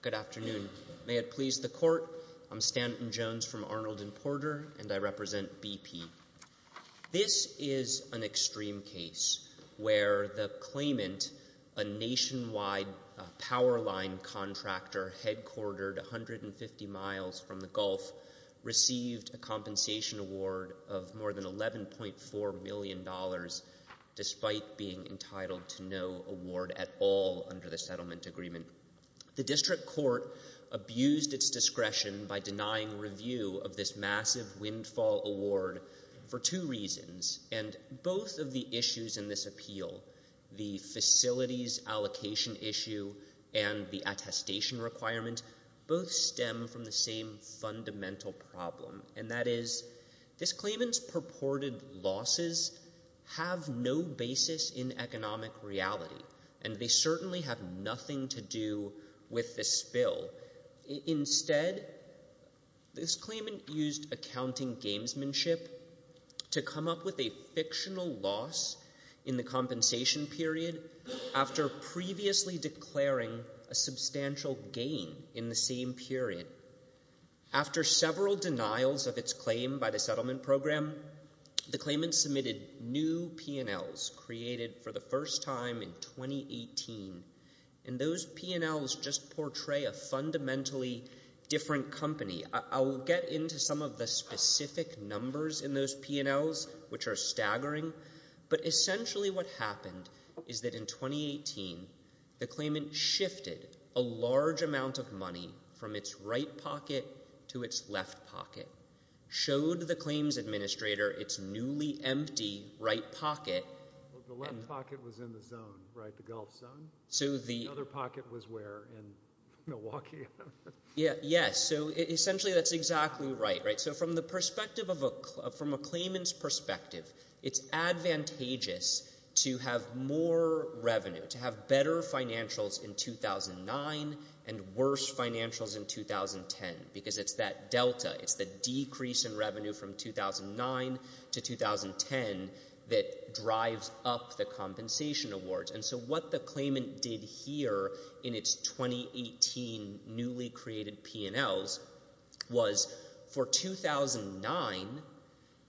Good afternoon. May it please the Court, I'm Stanton Jones from Arnold & Porter and I represent BP. This is an extreme case where the claimant, a nationwide powerline contractor headquartered 150 miles from the Gulf, received a compensation award of more than $11.4 million despite being entitled to no award at all under the settlement agreement. The District Court abused its discretion by denying review of this massive windfall award for two reasons, and both of the issues in this appeal, the facilities allocation issue and the attestation requirement, both stem from the same fundamental problem, and that is, this claimant's purported losses have no basis in economic reality, and they certainly have nothing to do with this spill. Instead, this claimant used accounting gamesmanship to come up with a fictional loss in the compensation period after previously declaring a substantial gain in the same period. After several denials of its claim by the settlement program, the claimant submitted new P&Ls created for the fundamentally different company. I'll get into some of the specific numbers in those P&Ls, which are staggering, but essentially what happened is that in 2018, the claimant shifted a large amount of money from its right pocket to its left pocket, showed the claims administrator its newly empty right pocket. The left pocket was in the zone, right? The Gulf zone? So the... The other pocket was where? In Milwaukee? Yes, so essentially that's exactly right. So from a claimant's perspective, it's advantageous to have more revenue, to have better financials in 2009 and worse financials in 2010, because it's that delta. It's the decrease in revenue from 2009 to 2010 that drives up the compensation awards. And so what the claimant did here in its 2018 newly created P&Ls was for 2009,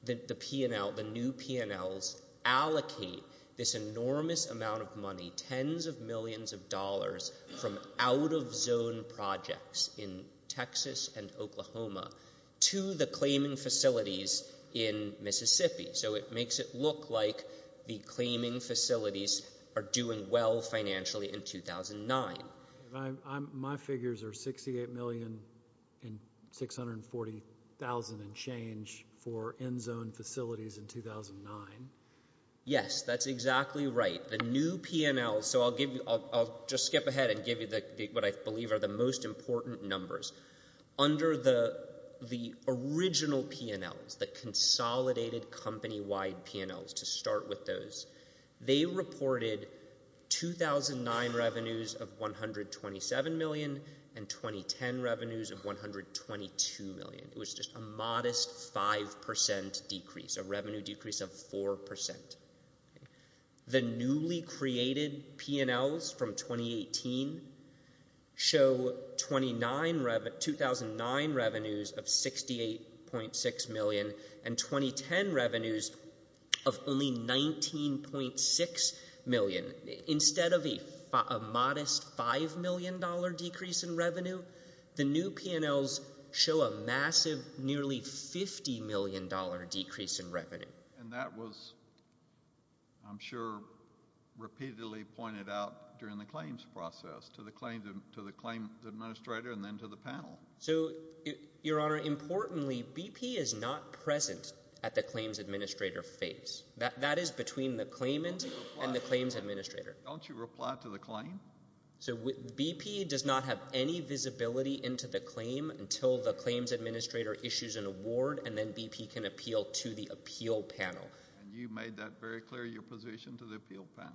the new P&Ls allocate this enormous amount of money, tens of millions of dollars, from out of zone projects in Texas and Oklahoma to the claiming facilities in Mississippi. So it makes it look like the claiming facilities are doing well financially in 2009. My figures are $68,640,000 and change for end zone facilities in 2009. Yes, that's exactly right. The new P&Ls, so I'll just skip ahead and give you what I believe are the most important numbers. Under the original P&Ls, the consolidated company-wide P&Ls, to start with those, they reported 2009 revenues of $127 million and 2010 revenues of $122 million. It was just a modest 5% decrease, a revenue decrease of 4%. The newly created P&Ls from 2018 show 2009 revenues of $68.6 million and 2010 revenues of only $19.6 million. Instead of a modest $5 million decrease in revenue, the new P&Ls show a massive nearly $50 million decrease in revenue. And that was, I'm sure, repeatedly pointed out during the claims process to the claims administrator and then to the panel. So, Your Honor, importantly BP is not present at the claims administrator phase. That is between the claimant and the claims administrator. Don't you reply to the claim? So BP does not have any visibility into the claim until the claims administrator issues an award and then BP can appeal to the appeal panel. And you made that very clear, your position to the appeal panel.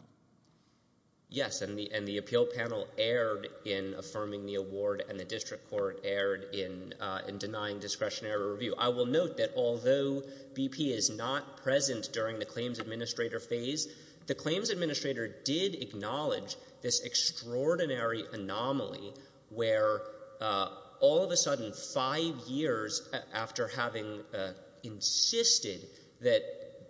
Yes. And the appeal panel erred in affirming the award and the district court erred in denying discretionary review. I will note that although BP is not present during the claims administrator phase, the claims administrator did acknowledge this extraordinary anomaly where all of a sudden, five years after having insisted that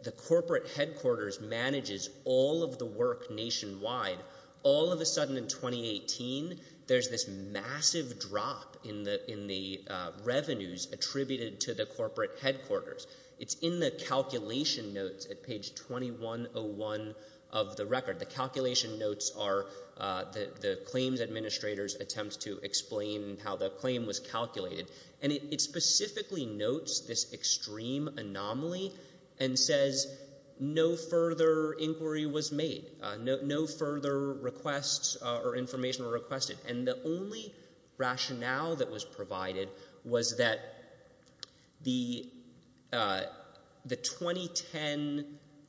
the corporate headquarters manages all of the work nationwide, all of a sudden in 2018 there's this massive drop in the revenues attributed to the corporate headquarters. It's in the calculation notes at page 2101 of the record. The calculation notes are the claims administrator's attempts to explain how the claim was calculated. And it specifically notes this extreme anomaly and says no further inquiry was made. No further requests or information were requested. And the only rationale that was provided was that the 2010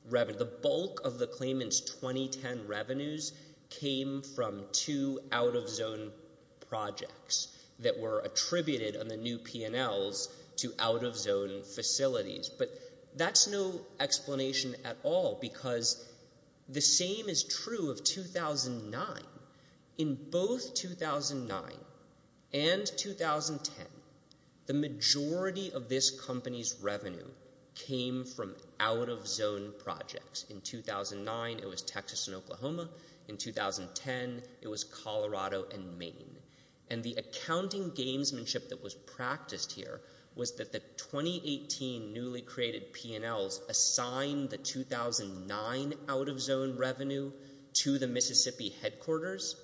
revenue, the bulk of the claimant's 2010 revenues came from two out-of-zone projects that were attributed on the new P&Ls to out-of-zone facilities. But that's no explanation at all because the same is true of 2009. In both 2009 and 2010, the majority of this company's revenue came from out-of-zone projects. In 2009, it was Texas and Oklahoma. In 2010, it was Colorado and Maine. And the accounting gamesmanship that was practiced here was that the 2018 newly created P&Ls assigned the 2009 out-of-zone revenue to the Mississippi headquarters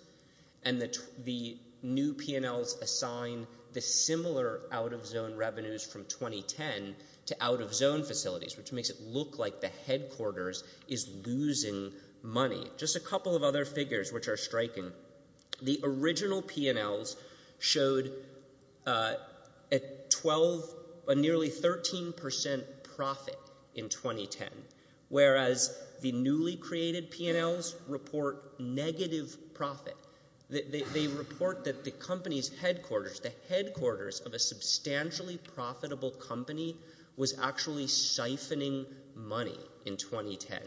and the new P&Ls assigned the similar out-of-zone revenues from 2010 to out-of-zone facilities, which makes it look like the headquarters is losing money. Just a couple of other figures which are striking. The original P&Ls showed a nearly 13% profit in 2010, whereas the newly created P&Ls report negative profit. They report that the company's headquarters, the headquarters of a substantially profitable company, was actually siphoning money in 2010.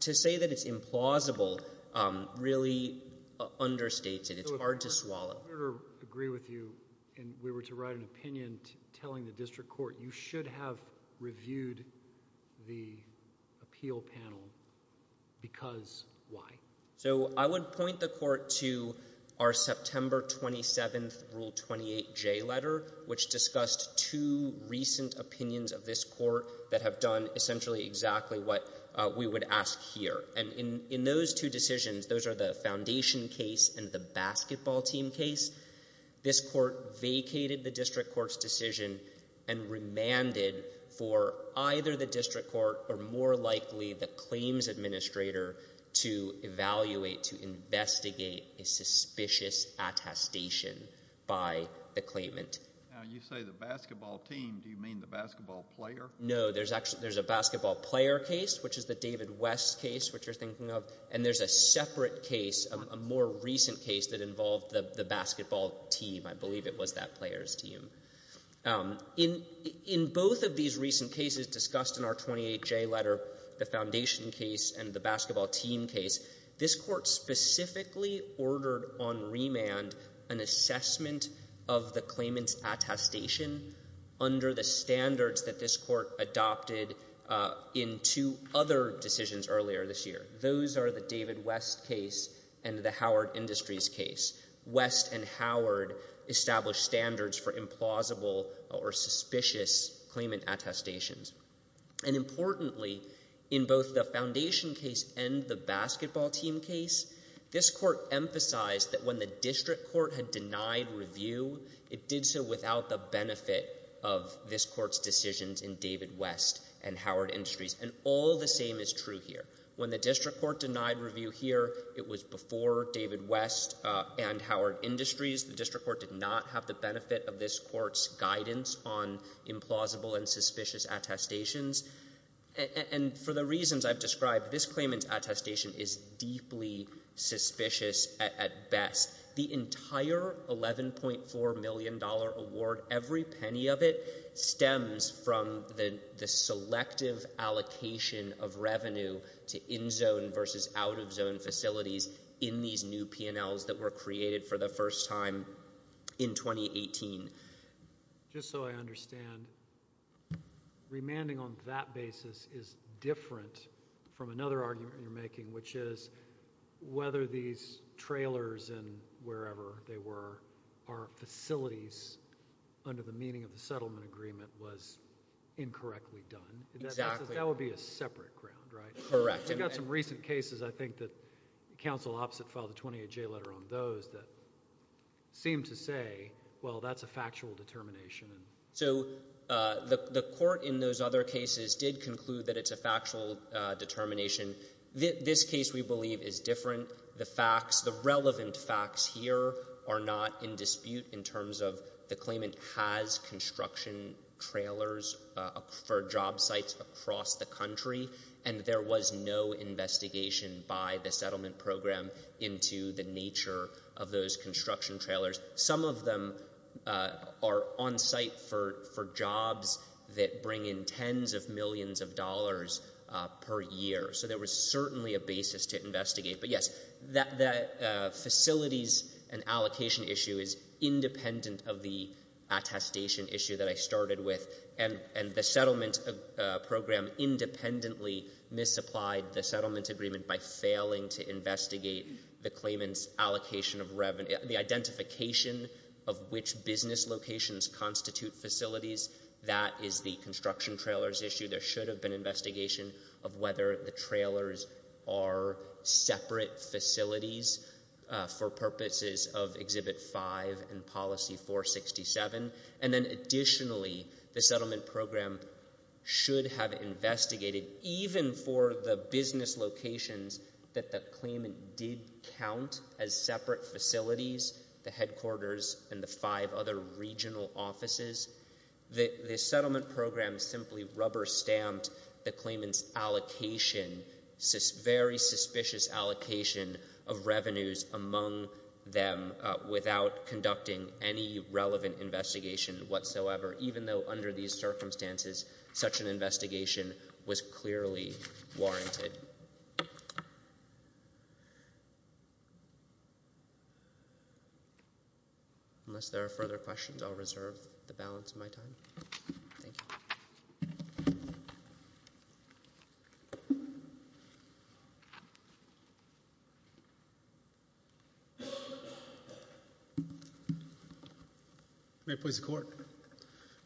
To say that it's implausible really understates it. It's hard to swallow. So if we're to agree with you and we were to write an opinion telling the district court, you should have reviewed the appeal panel because why? So I would point the court to our September 27th Rule 28J letter, which discussed two recent opinions of this court that have done essentially exactly what we would ask here. And in those two decisions, those are the foundation case and the basketball team case, this court vacated the district court's decision and remanded for either the district court or more likely the claims administrator to evaluate, to investigate a suspicious attestation by the claimant. Now, you say the basketball team. Do you mean the basketball player? No. There's a basketball player case, which is the David West case, which you're thinking of. And there's a separate case, a more recent case that involved the basketball team. I believe it was that player's team. In both of these recent cases discussed in our 28J letter, the foundation case and the basketball team case, this court specifically ordered on remand an assessment of the claimant's attestation under the standards that this court adopted in two other decisions earlier this year. Those are the David West case and the Howard Industries case. West and Howard established standards for implausible or suspicious claimant attestations. And importantly, in both the foundation case and the basketball team case, this court emphasized that when the district court had denied review, it did so without the benefit of this court's decisions in David West and Howard Industries. And all the same is true here. When the district court denied review here, it was before David West and Howard Industries. The district court did not have the benefit of this court's guidance on implausible and suspicious attestations. And for the reasons I've described, this claimant's attestation is deeply suspicious at best. The entire $11.4 million award, every penny of it, stems from the selective allocation of revenue to in-zone versus out-of-zone facilities in these new P&Ls that were created for the first time in 2018. Just so I understand, remanding on that basis is different from another argument you're making, which is whether these trailers and wherever they were are facilities under the meaning of the settlement agreement was incorrectly done. Exactly. That would be a separate ground, right? Correct. We've got some recent cases, I think, that counsel opposite filed a 28-J letter on those that seem to say, well, that's a factual determination. So the court in those other cases did conclude that it's a factual determination. This case, we believe, is different. The facts, the relevant facts here are not in dispute in terms of the claimant has construction trailers for job sites across the country, and there was no investigation by the settlement program into the nature of those construction trailers. Some of them are on site for jobs that bring in tens of millions of dollars per year. So there was certainly a basis to investigate. But yes, that facilities and allocation issue is independent of the attestation issue that I started with. And the settlement program independently misapplied the settlement agreement by failing to investigate the claimant's allocation of revenue. The identification of which business locations constitute facilities, that is the construction trailers issue. There should have been investigation of whether the trailers are separate facilities for purposes of Exhibit 5 and Policy 467. And then additionally, the settlement program should have investigated, even for the business locations that the claimant did count as separate facilities, the headquarters and the five other regional offices, the settlement program simply rubber-stamped the claimant's allocation, very suspicious allocation of revenues among them without conducting any relevant investigation whatsoever, even though under these circumstances, such an investigation was clearly warranted. Unless there are further questions, I'll reserve the balance of my time. Thank you. Thank you. May it please the Court.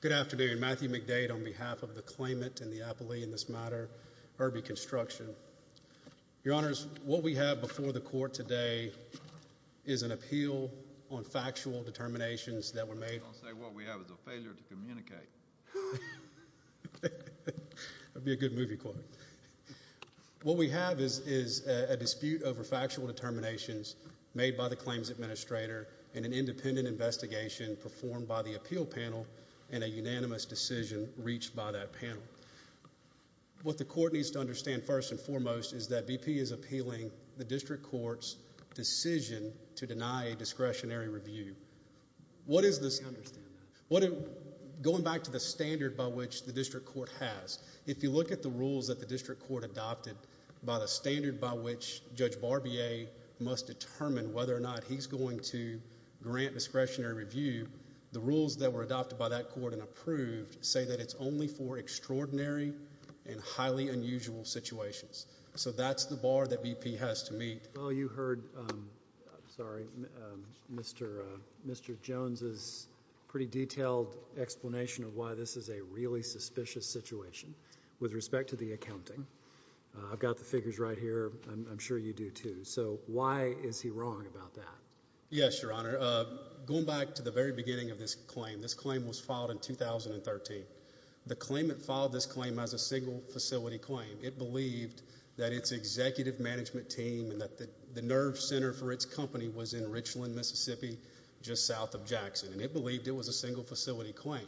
Good afternoon. Matthew McDade on behalf of the claimant and the appellee in this matter, Herbie Construction. Your Honors, what we have before the Court today is an appeal on factual determinations that were made. Don't say what we have. It's a failure to communicate. That would be a good movie quote. What we have is a dispute over factual determinations made by the claims administrator and an independent investigation performed by the appeal panel and a unanimous decision reached by that panel. What the Court needs to understand first and foremost is that BP is appealing the District Court's decision to deny a discretionary review. What is this? I understand that. Going back to the standard by which the District Court has, if you look at the rules that the District Court adopted by the standard by which Judge Barbier must determine whether or not he's going to grant discretionary review, the rules that were adopted by that Court and approved say that it's only for extraordinary and highly unusual situations. So that's the bar that BP has to meet. Well, you heard, sorry, Mr. Jones' pretty detailed explanation of why this is a really I've got the figures right here. I'm sure you do, too. So why is he wrong about that? Yes, Your Honor. Going back to the very beginning of this claim, this claim was filed in 2013. The claimant filed this claim as a single facility claim. It believed that its executive management team and that the nerve center for its company was in Richland, Mississippi, just south of Jackson. And it believed it was a single facility claim.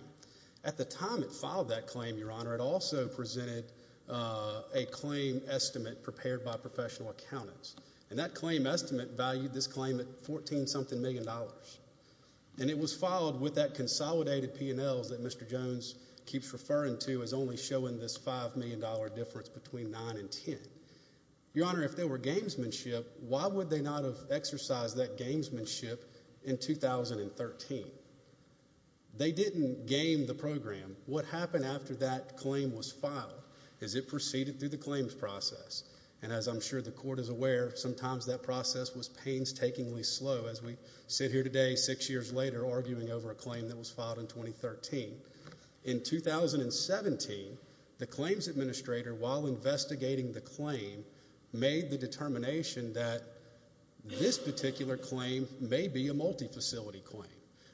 At the time it filed that claim, Your Honor, it also presented a claim estimate prepared by professional accountants. And that claim estimate valued this claim at $14-something million. And it was filed with that consolidated P&Ls that Mr. Jones keeps referring to as only showing this $5 million difference between 9 and 10. Your Honor, if they were gamesmanship, why would they not have exercised that gamesmanship in 2013? They didn't game the program. What happened after that claim was filed is it proceeded through the claims process. And as I'm sure the court is aware, sometimes that process was painstakingly slow, as we sit here today six years later arguing over a claim that was filed in 2013. In 2017, the claims administrator, while investigating the claim, made the determination that this particular claim may be a multi-facility claim.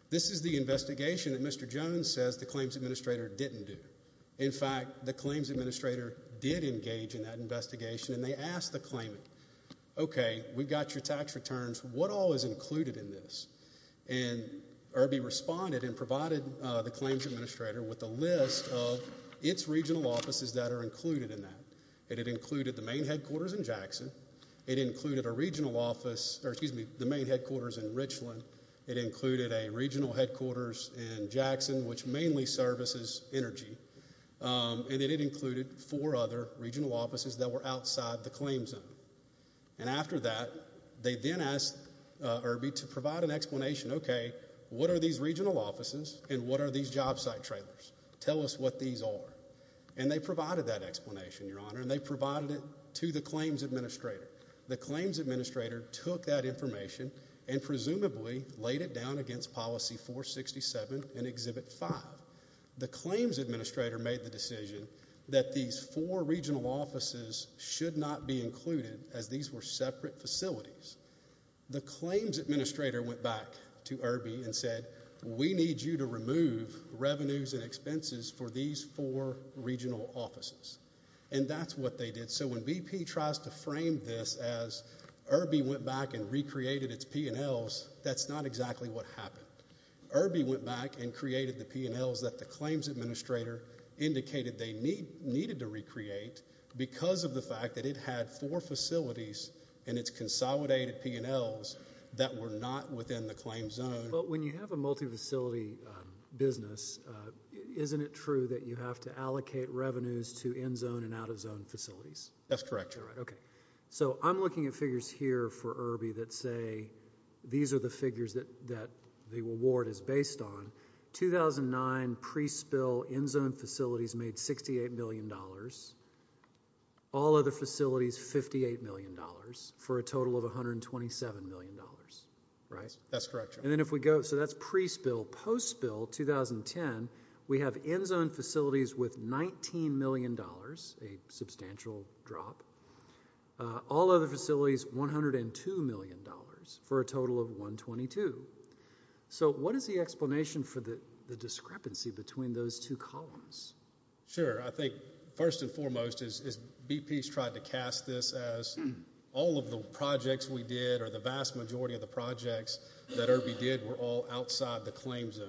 This is the investigation that Mr. Jones says the claims administrator didn't do. In fact, the claims administrator did engage in that investigation, and they asked the claimant, okay, we've got your tax returns. What all is included in this? And Irby responded and provided the claims administrator with a list of its regional offices that are included in that. It had included the main headquarters in Jackson. It included a regional office, or excuse me, the main headquarters in Richland. It included a regional headquarters in Jackson, which mainly services energy. And it included four other regional offices that were outside the claim zone. And after that, they then asked Irby to provide an explanation, okay, what are these regional offices and what are these job site trailers? Tell us what these are. And they provided that explanation, Your Honor. And they provided it to the claims administrator. The claims administrator took that information and presumably laid it down against Policy 467 in Exhibit 5. The claims administrator made the decision that these four regional offices should not be included, as these were separate facilities. The claims administrator went back to Irby and said, we need you to remove revenues and expenses for these four regional offices. And that's what they did. So when BP tries to frame this as Irby went back and recreated its P&Ls, that's not exactly what happened. Irby went back and created the P&Ls that the claims administrator indicated they needed to recreate because of the fact that it had four facilities and its consolidated P&Ls that were not within the claim zone. But when you have a multi-facility business, isn't it true that you have to allocate revenues to end zone and out of zone facilities? That's correct, Your Honor. OK. So I'm looking at figures here for Irby that say these are the figures that the award is based on. 2009 pre-spill end zone facilities made $68 million. All other facilities, $58 million for a total of $127 million, right? That's correct, Your Honor. And then if we go, so that's pre-spill. Post-spill, 2010, we have end zone facilities with $19 million, a substantial drop. All other facilities, $102 million for a total of $122 million. So what is the explanation for the discrepancy between those two columns? Sure. I think first and foremost is BP's tried to cast this as all of the projects we did or the vast majority of the projects that Irby did were all outside the claim zone.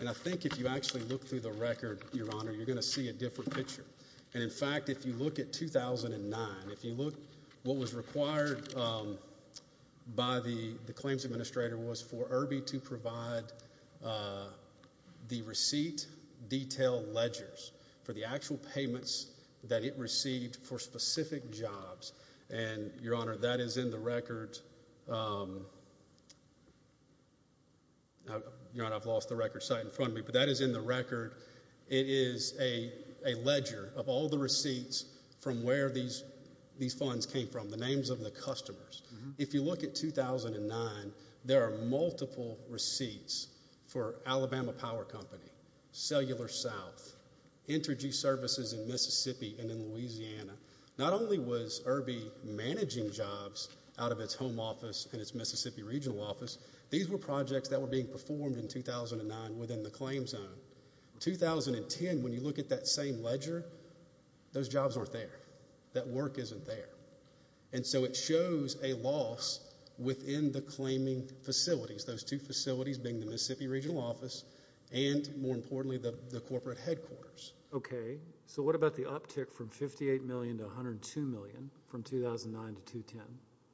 And I think if you actually look through the record, Your Honor, you're going to see a different picture. And in fact, if you look at 2009, if you look what was required by the claims administrator was for Irby to provide the receipt detail ledgers for the actual payments that it received for specific jobs. And, Your Honor, that is in the record. Your Honor, I've lost the record sight in front of me, but that is in the record. It is a ledger of all the receipts from where these funds came from, the names of the customers. If you look at 2009, there are multiple receipts for Alabama Power Company, Cellular South, Intergy Services in Mississippi and in Louisiana. Not only was Irby managing jobs out of its home office and its Mississippi regional office, these were projects that were being performed in 2009 within the claim zone. 2010, when you look at that same ledger, those jobs aren't there. That work isn't there. And so it shows a loss within the claiming facilities, those two facilities being the Mississippi regional office and, more importantly, the corporate headquarters. Okay. So what about the uptick from $58 million to $102 million from 2009 to 2010?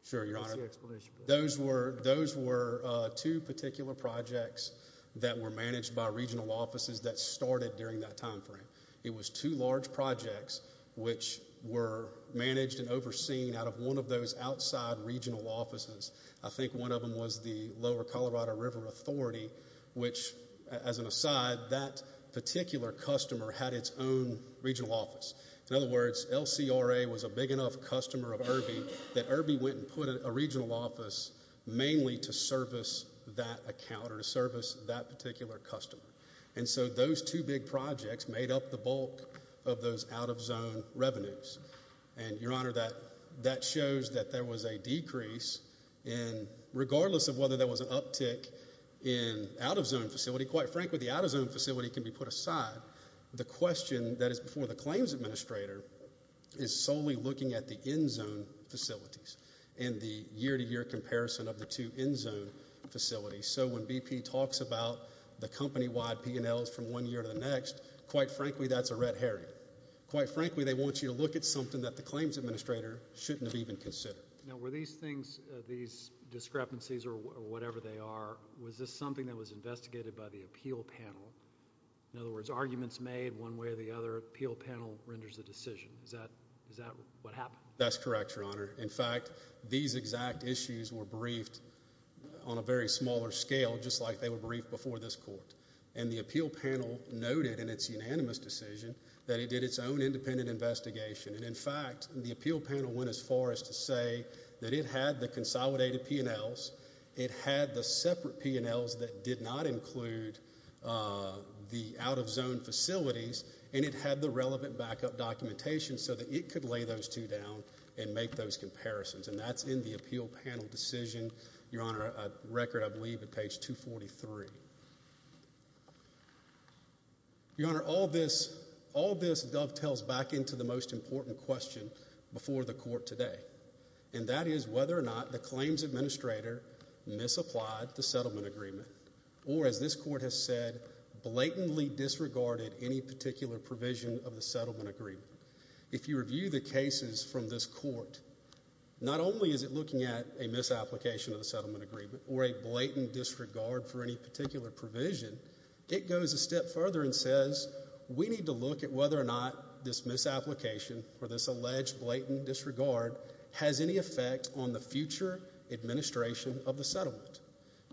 Sure, Your Honor. What's the explanation for that? Those were two particular projects that were managed by regional offices that started during that time frame. It was two large projects which were managed and overseen out of one of those outside regional offices. I think one of them was the Lower Colorado River Authority, which, as an aside, that particular customer had its own regional office. In other words, LCRA was a big enough customer of Irby that Irby went and put a regional office mainly to service that account or to service that particular customer. And so those two big projects made up the bulk of those out-of-zone revenues. And, Your Honor, that shows that there was a decrease in, regardless of whether there was an uptick in out-of-zone facility, quite frankly, the out-of-zone facility can be put aside. The question that is before the claims administrator is solely looking at the end-zone facilities and the year-to-year comparison of the two end-zone facilities. So when BP talks about the company-wide P&Ls from one year to the next, quite frankly, that's a red herring. Quite frankly, they want you to look at something that the claims administrator shouldn't have even considered. Now, were these things, these discrepancies or whatever they are, was this something that was investigated by the appeal panel? In other words, arguments made one way or the other, appeal panel renders the decision. Is that what happened? That's correct, Your Honor. In fact, these exact issues were briefed on a very smaller scale, just like they were briefed before this court. And the appeal panel noted in its unanimous decision that it did its own independent investigation. And, in fact, the appeal panel went as far as to say that it had the consolidated P&Ls, it had the separate P&Ls that did not include the out-of-zone facilities, and it had the relevant backup documentation so that it could lay those two down and make those comparisons. And that's in the appeal panel decision, Your Honor, a record, I believe, at page 243. Your Honor, all this dovetails back into the most important question before the court today, and that is whether or not the claims administrator misapplied the settlement agreement or, as this court has said, blatantly disregarded any particular provision of the settlement agreement. If you review the cases from this court, not only is it looking at a misapplication of the settlement agreement or a blatant disregard for any particular provision, it goes a step further and says, we need to look at whether or not this misapplication or this alleged blatant disregard has any effect on the future administration of the settlement.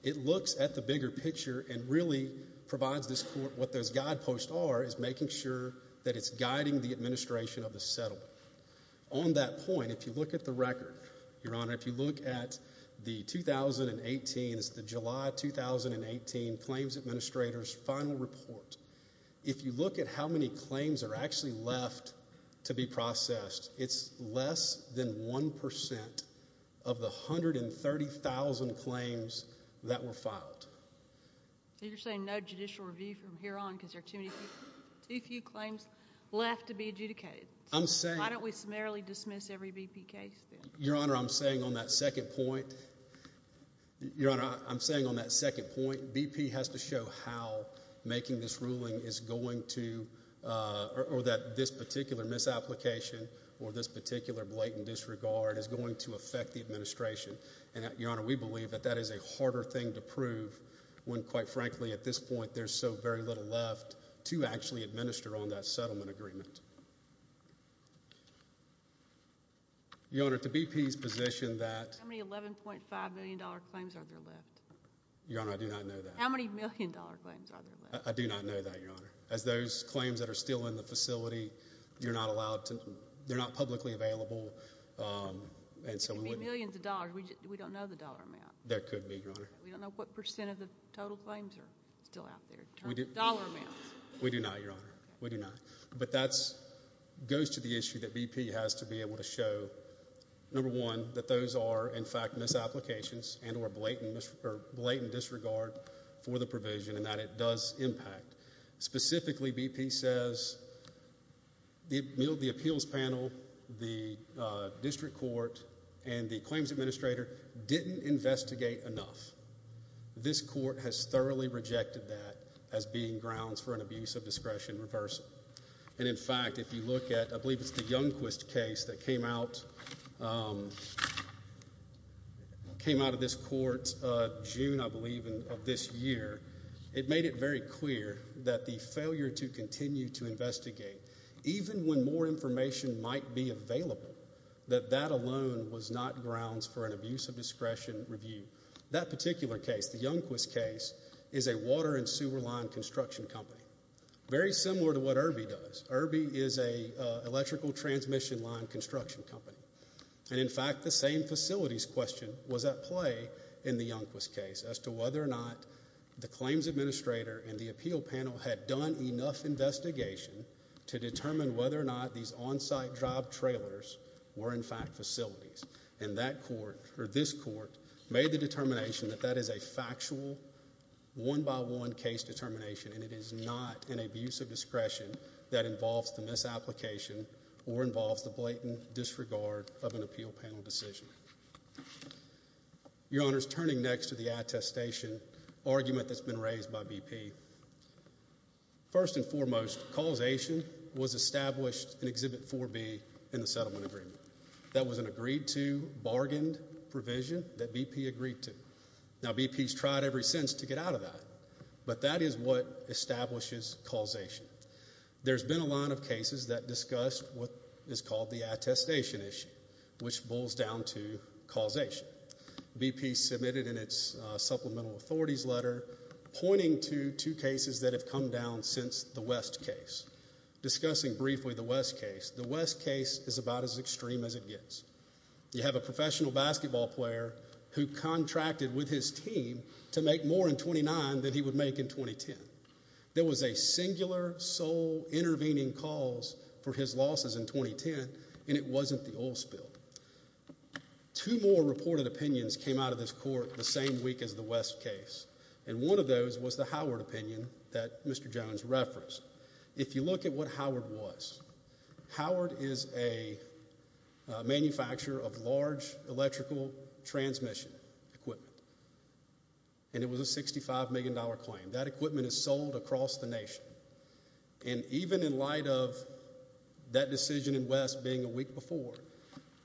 It looks at the bigger picture and really provides this court what those guideposts are is making sure that it's guiding the administration of the settlement. On that point, if you look at the record, Your Honor, if you look at the 2018, it's the July 2018 claims administrator's final report, if you look at how many claims are actually left to be processed, it's less than 1% of the 130,000 claims that were filed. So you're saying no judicial review from here on because there are too few claims left to be adjudicated? I'm saying— Why don't we summarily dismiss every BP case then? Your Honor, I'm saying on that second point, BP has to show how making this ruling is going to— or that this particular misapplication or this particular blatant disregard is going to affect the administration. And, Your Honor, we believe that that is a harder thing to prove when, quite frankly, at this point there's so very little left to actually administer on that settlement agreement. Your Honor, to BP's position that— How many $11.5 million claims are there left? Your Honor, I do not know that. How many million-dollar claims are there left? I do not know that, Your Honor. As those claims that are still in the facility, you're not allowed to—they're not publicly available, and so— It could be millions of dollars. We don't know the dollar amount. That could be, Your Honor. We don't know what percent of the total claims are still out there in terms of dollar amounts. We do not, Your Honor. We do not. But that goes to the issue that BP has to be able to show, number one, that those are, in fact, misapplications and or blatant disregard for the provision and that it does impact. Specifically, BP says the appeals panel, the district court, and the claims administrator didn't investigate enough. This court has thoroughly rejected that as being grounds for an abuse of discretion reversal. And, in fact, if you look at—I believe it's the Youngquist case that came out of this court June, I believe, of this year. It made it very clear that the failure to continue to investigate, even when more information might be available, that that alone was not grounds for an abuse of discretion review. That particular case, the Youngquist case, is a water and sewer line construction company, very similar to what Irby does. Irby is an electrical transmission line construction company. And, in fact, the same facilities question was at play in the Youngquist case as to whether or not the claims administrator and the appeal panel had done enough investigation to determine whether or not these on-site job trailers were, in fact, facilities. And that court, or this court, made the determination that that is a factual one-by-one case determination and it is not an abuse of discretion that involves the misapplication or involves the blatant disregard of an appeal panel decision. Your Honor, turning next to the attestation argument that's been raised by BP, first and foremost, causation was established in Exhibit 4B in the settlement agreement. That was an agreed-to, bargained provision that BP agreed to. Now, BP's tried every sense to get out of that, but that is what establishes causation. There's been a line of cases that discussed what is called the attestation issue, which boils down to causation. BP submitted in its supplemental authorities letter pointing to two cases that have come down since the West case. Discussing briefly the West case, the West case is about as extreme as it gets. You have a professional basketball player who contracted with his team to make more in 29 than he would make in 2010. There was a singular, sole, intervening cause for his losses in 2010, and it wasn't the oil spill. Two more reported opinions came out of this court the same week as the West case, and one of those was the Howard opinion that Mr. Jones referenced. If you look at what Howard was, Howard is a manufacturer of large electrical transmission equipment, and it was a $65 million claim. That equipment is sold across the nation. And even in light of that decision in West being a week before,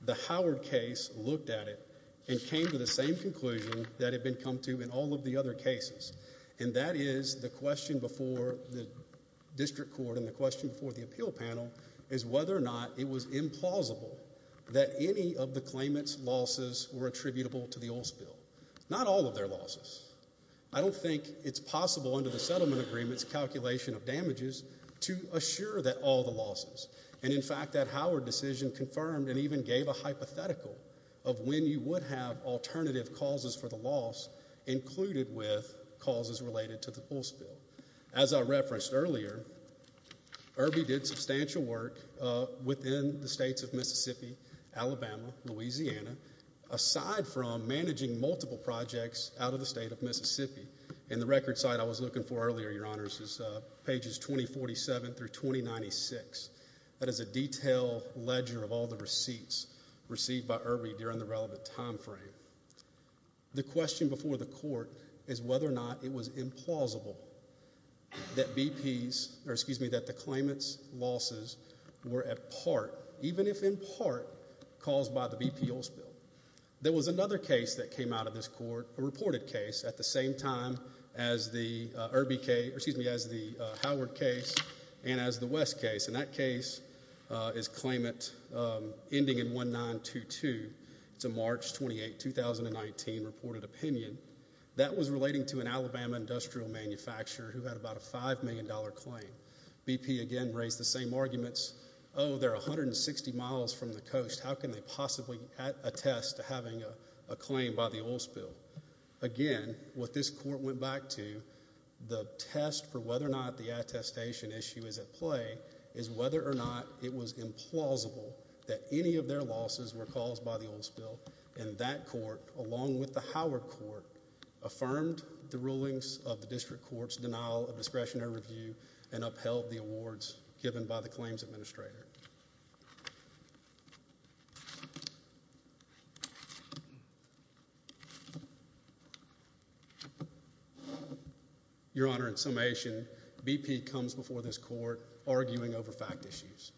the Howard case looked at it and came to the same conclusion that had been come to in all of the other cases, and that is the question before the district court and the question before the appeal panel is whether or not it was implausible that any of the claimant's losses were attributable to the oil spill. Not all of their losses. I don't think it's possible under the settlement agreement's calculation of damages to assure that all the losses, and in fact that Howard decision confirmed and even gave a hypothetical of when you would have alternative causes for the loss included with causes related to the oil spill. As I referenced earlier, Irby did substantial work within the states of Mississippi, Alabama, Louisiana, aside from managing multiple projects out of the state of Mississippi. And the record site I was looking for earlier, Your Honors, is pages 2047 through 2096. That is a detailed ledger of all the receipts received by Irby during the relevant time frame. The question before the court is whether or not it was implausible that BP's, or excuse me, that the claimant's losses were at part, even if in part, caused by the BP oil spill. There was another case that came out of this court, a reported case, at the same time as the Irby case, and that case is claimant ending in 1922. It's a March 28, 2019 reported opinion. That was relating to an Alabama industrial manufacturer who had about a $5 million claim. BP again raised the same arguments. Oh, they're 160 miles from the coast. How can they possibly attest to having a claim by the oil spill? Again, what this court went back to, the test for whether or not the attestation issue is at play, is whether or not it was implausible that any of their losses were caused by the oil spill. And that court, along with the Howard Court, affirmed the rulings of the district court's denial of discretionary review and upheld the awards given by the claims administrator. Your Honor, in summation, BP comes before this court arguing over fact issues.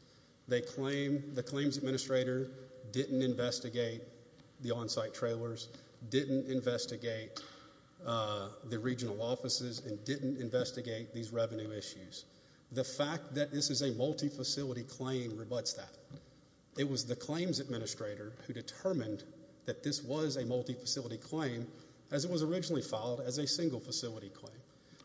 They claim the claims administrator didn't investigate the on-site trailers, didn't investigate the regional offices, and didn't investigate these revenue issues. The fact that this is a multi-facility claim rebuts that. It was the claims administrator who determined that this was a multi-facility claim, as it was originally filed, as a single-facility claim.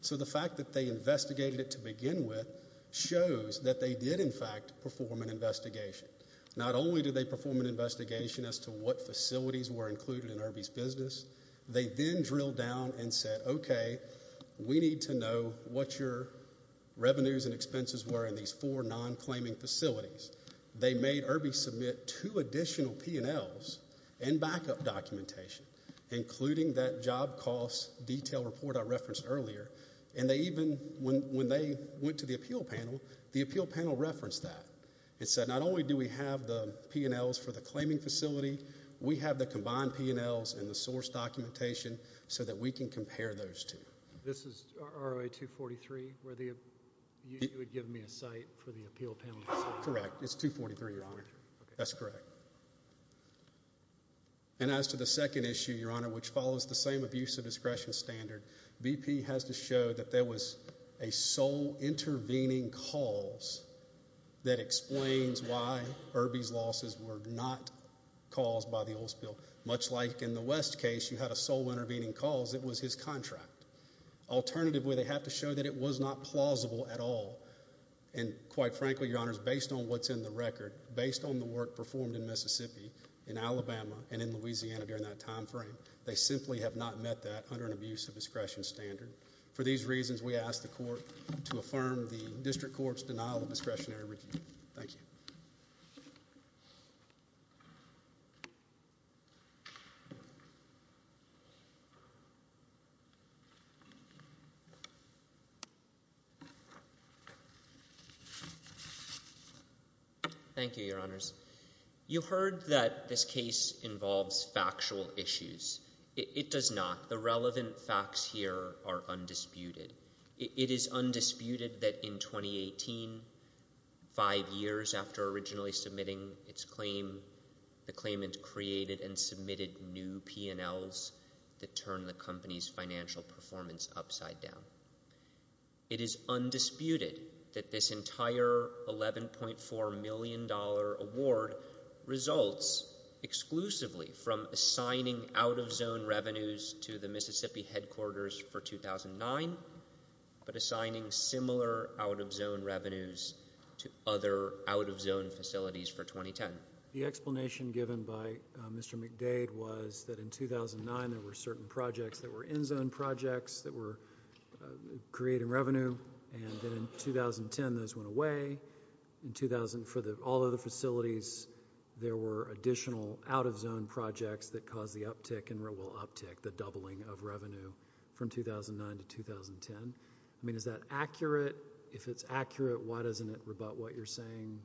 So the fact that they investigated it to begin with shows that they did, in fact, perform an investigation. Not only did they perform an investigation as to what facilities were included in Irby's business, they then drilled down and said, okay, we need to know what your revenues and expenses were in these four non-claiming facilities. They made Irby submit two additional P&Ls and backup documentation, including that job cost detail report I referenced earlier. And they even, when they went to the appeal panel, the appeal panel referenced that and said not only do we have the P&Ls for the claiming facility, we have the combined P&Ls and the source documentation so that we can compare those two. This is ROA 243 where you would give me a site for the appeal panel? Correct. It's 243, Your Honor. That's correct. And as to the second issue, Your Honor, which follows the same abuse of discretion standard, BP has to show that there was a sole intervening cause that explains why Irby's losses were not caused by the oil spill. Much like in the West case, you had a sole intervening cause. It was his contract. Alternatively, they have to show that it was not plausible at all. And quite frankly, Your Honor, based on what's in the record, based on the work performed in Mississippi, in Alabama, and in Louisiana during that time frame, they simply have not met that under an abuse of discretion standard. For these reasons, we ask the court to affirm the district court's denial of discretionary review. Thank you. Thank you, Your Honors. You heard that this case involves factual issues. It does not. The relevant facts here are undisputed. It is undisputed that in 2018, five years after originally submitting its claim, the claimant created and submitted new P&Ls that turned the company's financial performance upside down. It is undisputed that this entire $11.4 million award results exclusively from assigning out-of-zone revenues to the Mississippi headquarters for 2009, but assigning similar out-of-zone revenues to other out-of-zone facilities for 2010. The explanation given by Mr. McDade was that in 2009, there were certain projects that were in-zone projects that were creating revenue, and then in 2010, those went away. In 2000, for all of the facilities, there were additional out-of-zone projects that caused the uptick and, well, uptick, the doubling of revenue from 2009 to 2010. I mean, is that accurate? If it's accurate, why doesn't it rebut what you're saying?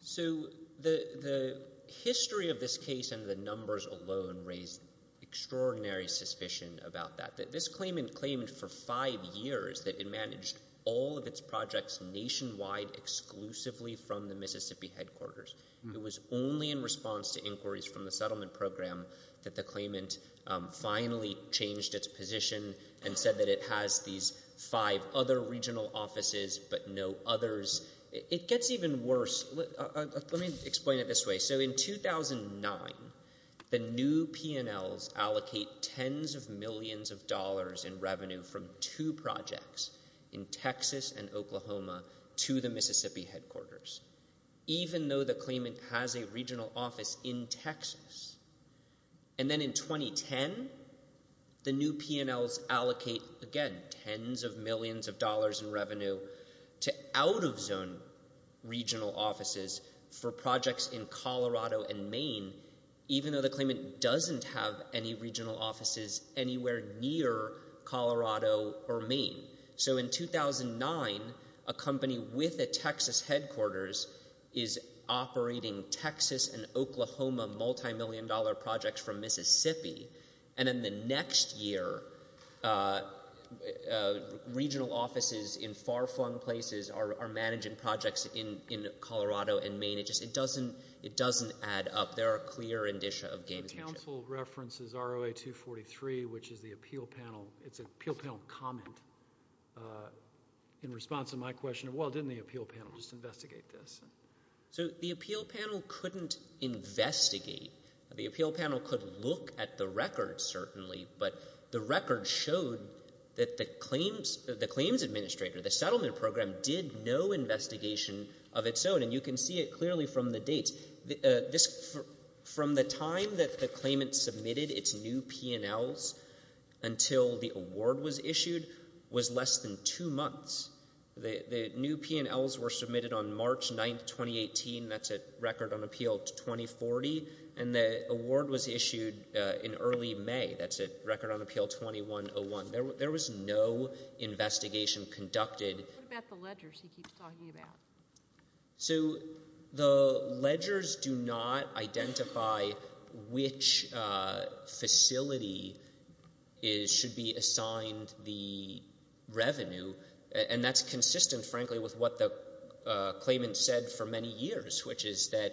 So the history of this case and the numbers alone raise extraordinary suspicion about that. This claimant claimed for five years that it managed all of its projects nationwide exclusively from the Mississippi headquarters. It was only in response to inquiries from the settlement program that the claimant finally changed its position and said that it has these five other regional offices but no others. It gets even worse. Let me explain it this way. So in 2009, the new P&Ls allocate tens of millions of dollars in revenue from two projects in Texas and Oklahoma to the Mississippi headquarters, even though the claimant has a regional office in Texas. They allocate tens of millions of dollars in revenue to out-of-zone regional offices for projects in Colorado and Maine, even though the claimant doesn't have any regional offices anywhere near Colorado or Maine. So in 2009, a company with a Texas headquarters is operating Texas and Oklahoma multimillion-dollar projects from Mississippi, and then the next year, regional offices in far-flung places are managing projects in Colorado and Maine. It doesn't add up. There are clear indicia of gamesmanship. The counsel references ROA 243, which is the appeal panel. It's an appeal panel comment in response to my question of, well, didn't the appeal panel just investigate this? So the appeal panel couldn't investigate. The appeal panel could look at the record, certainly, but the record showed that the claims administrator, the settlement program, did no investigation of its own, and you can see it clearly from the dates. From the time that the claimant submitted its new P&Ls until the award was issued was less than two months. The new P&Ls were submitted on March 9, 2018. That's a record on appeal 2040, and the award was issued in early May. That's a record on appeal 2101. There was no investigation conducted. What about the ledgers he keeps talking about? So the ledgers do not identify which facility should be assigned the revenue, and that's consistent, frankly, with what the claimant said for many years, which is that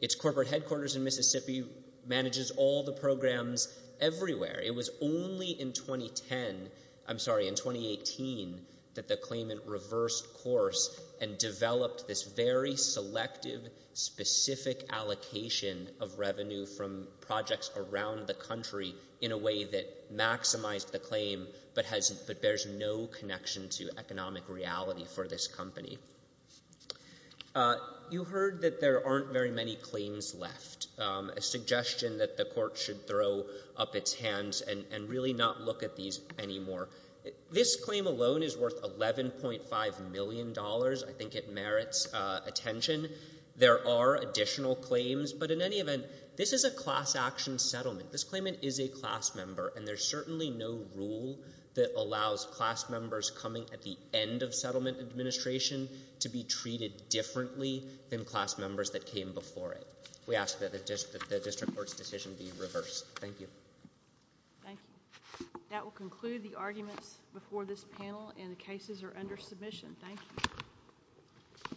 its corporate headquarters in Mississippi manages all the programs everywhere. It was only in 2010, I'm sorry, in 2018, that the claimant reversed course and developed this very selective, specific allocation of revenue from projects around the country in a way that maximized the claim but bears no connection to economic reality for this company. You heard that there aren't very many claims left, a suggestion that the court should throw up its hands and really not look at these anymore. This claim alone is worth $11.5 million. I think it merits attention. There are additional claims, but in any event, this is a class action settlement. This claimant is a class member, and there's certainly no rule that allows class members coming at the end of settlement administration to be treated differently than class members that came before it. We ask that the district court's decision be reversed. Thank you. Thank you. That will conclude the arguments before this panel, and the cases are under submission. Thank you.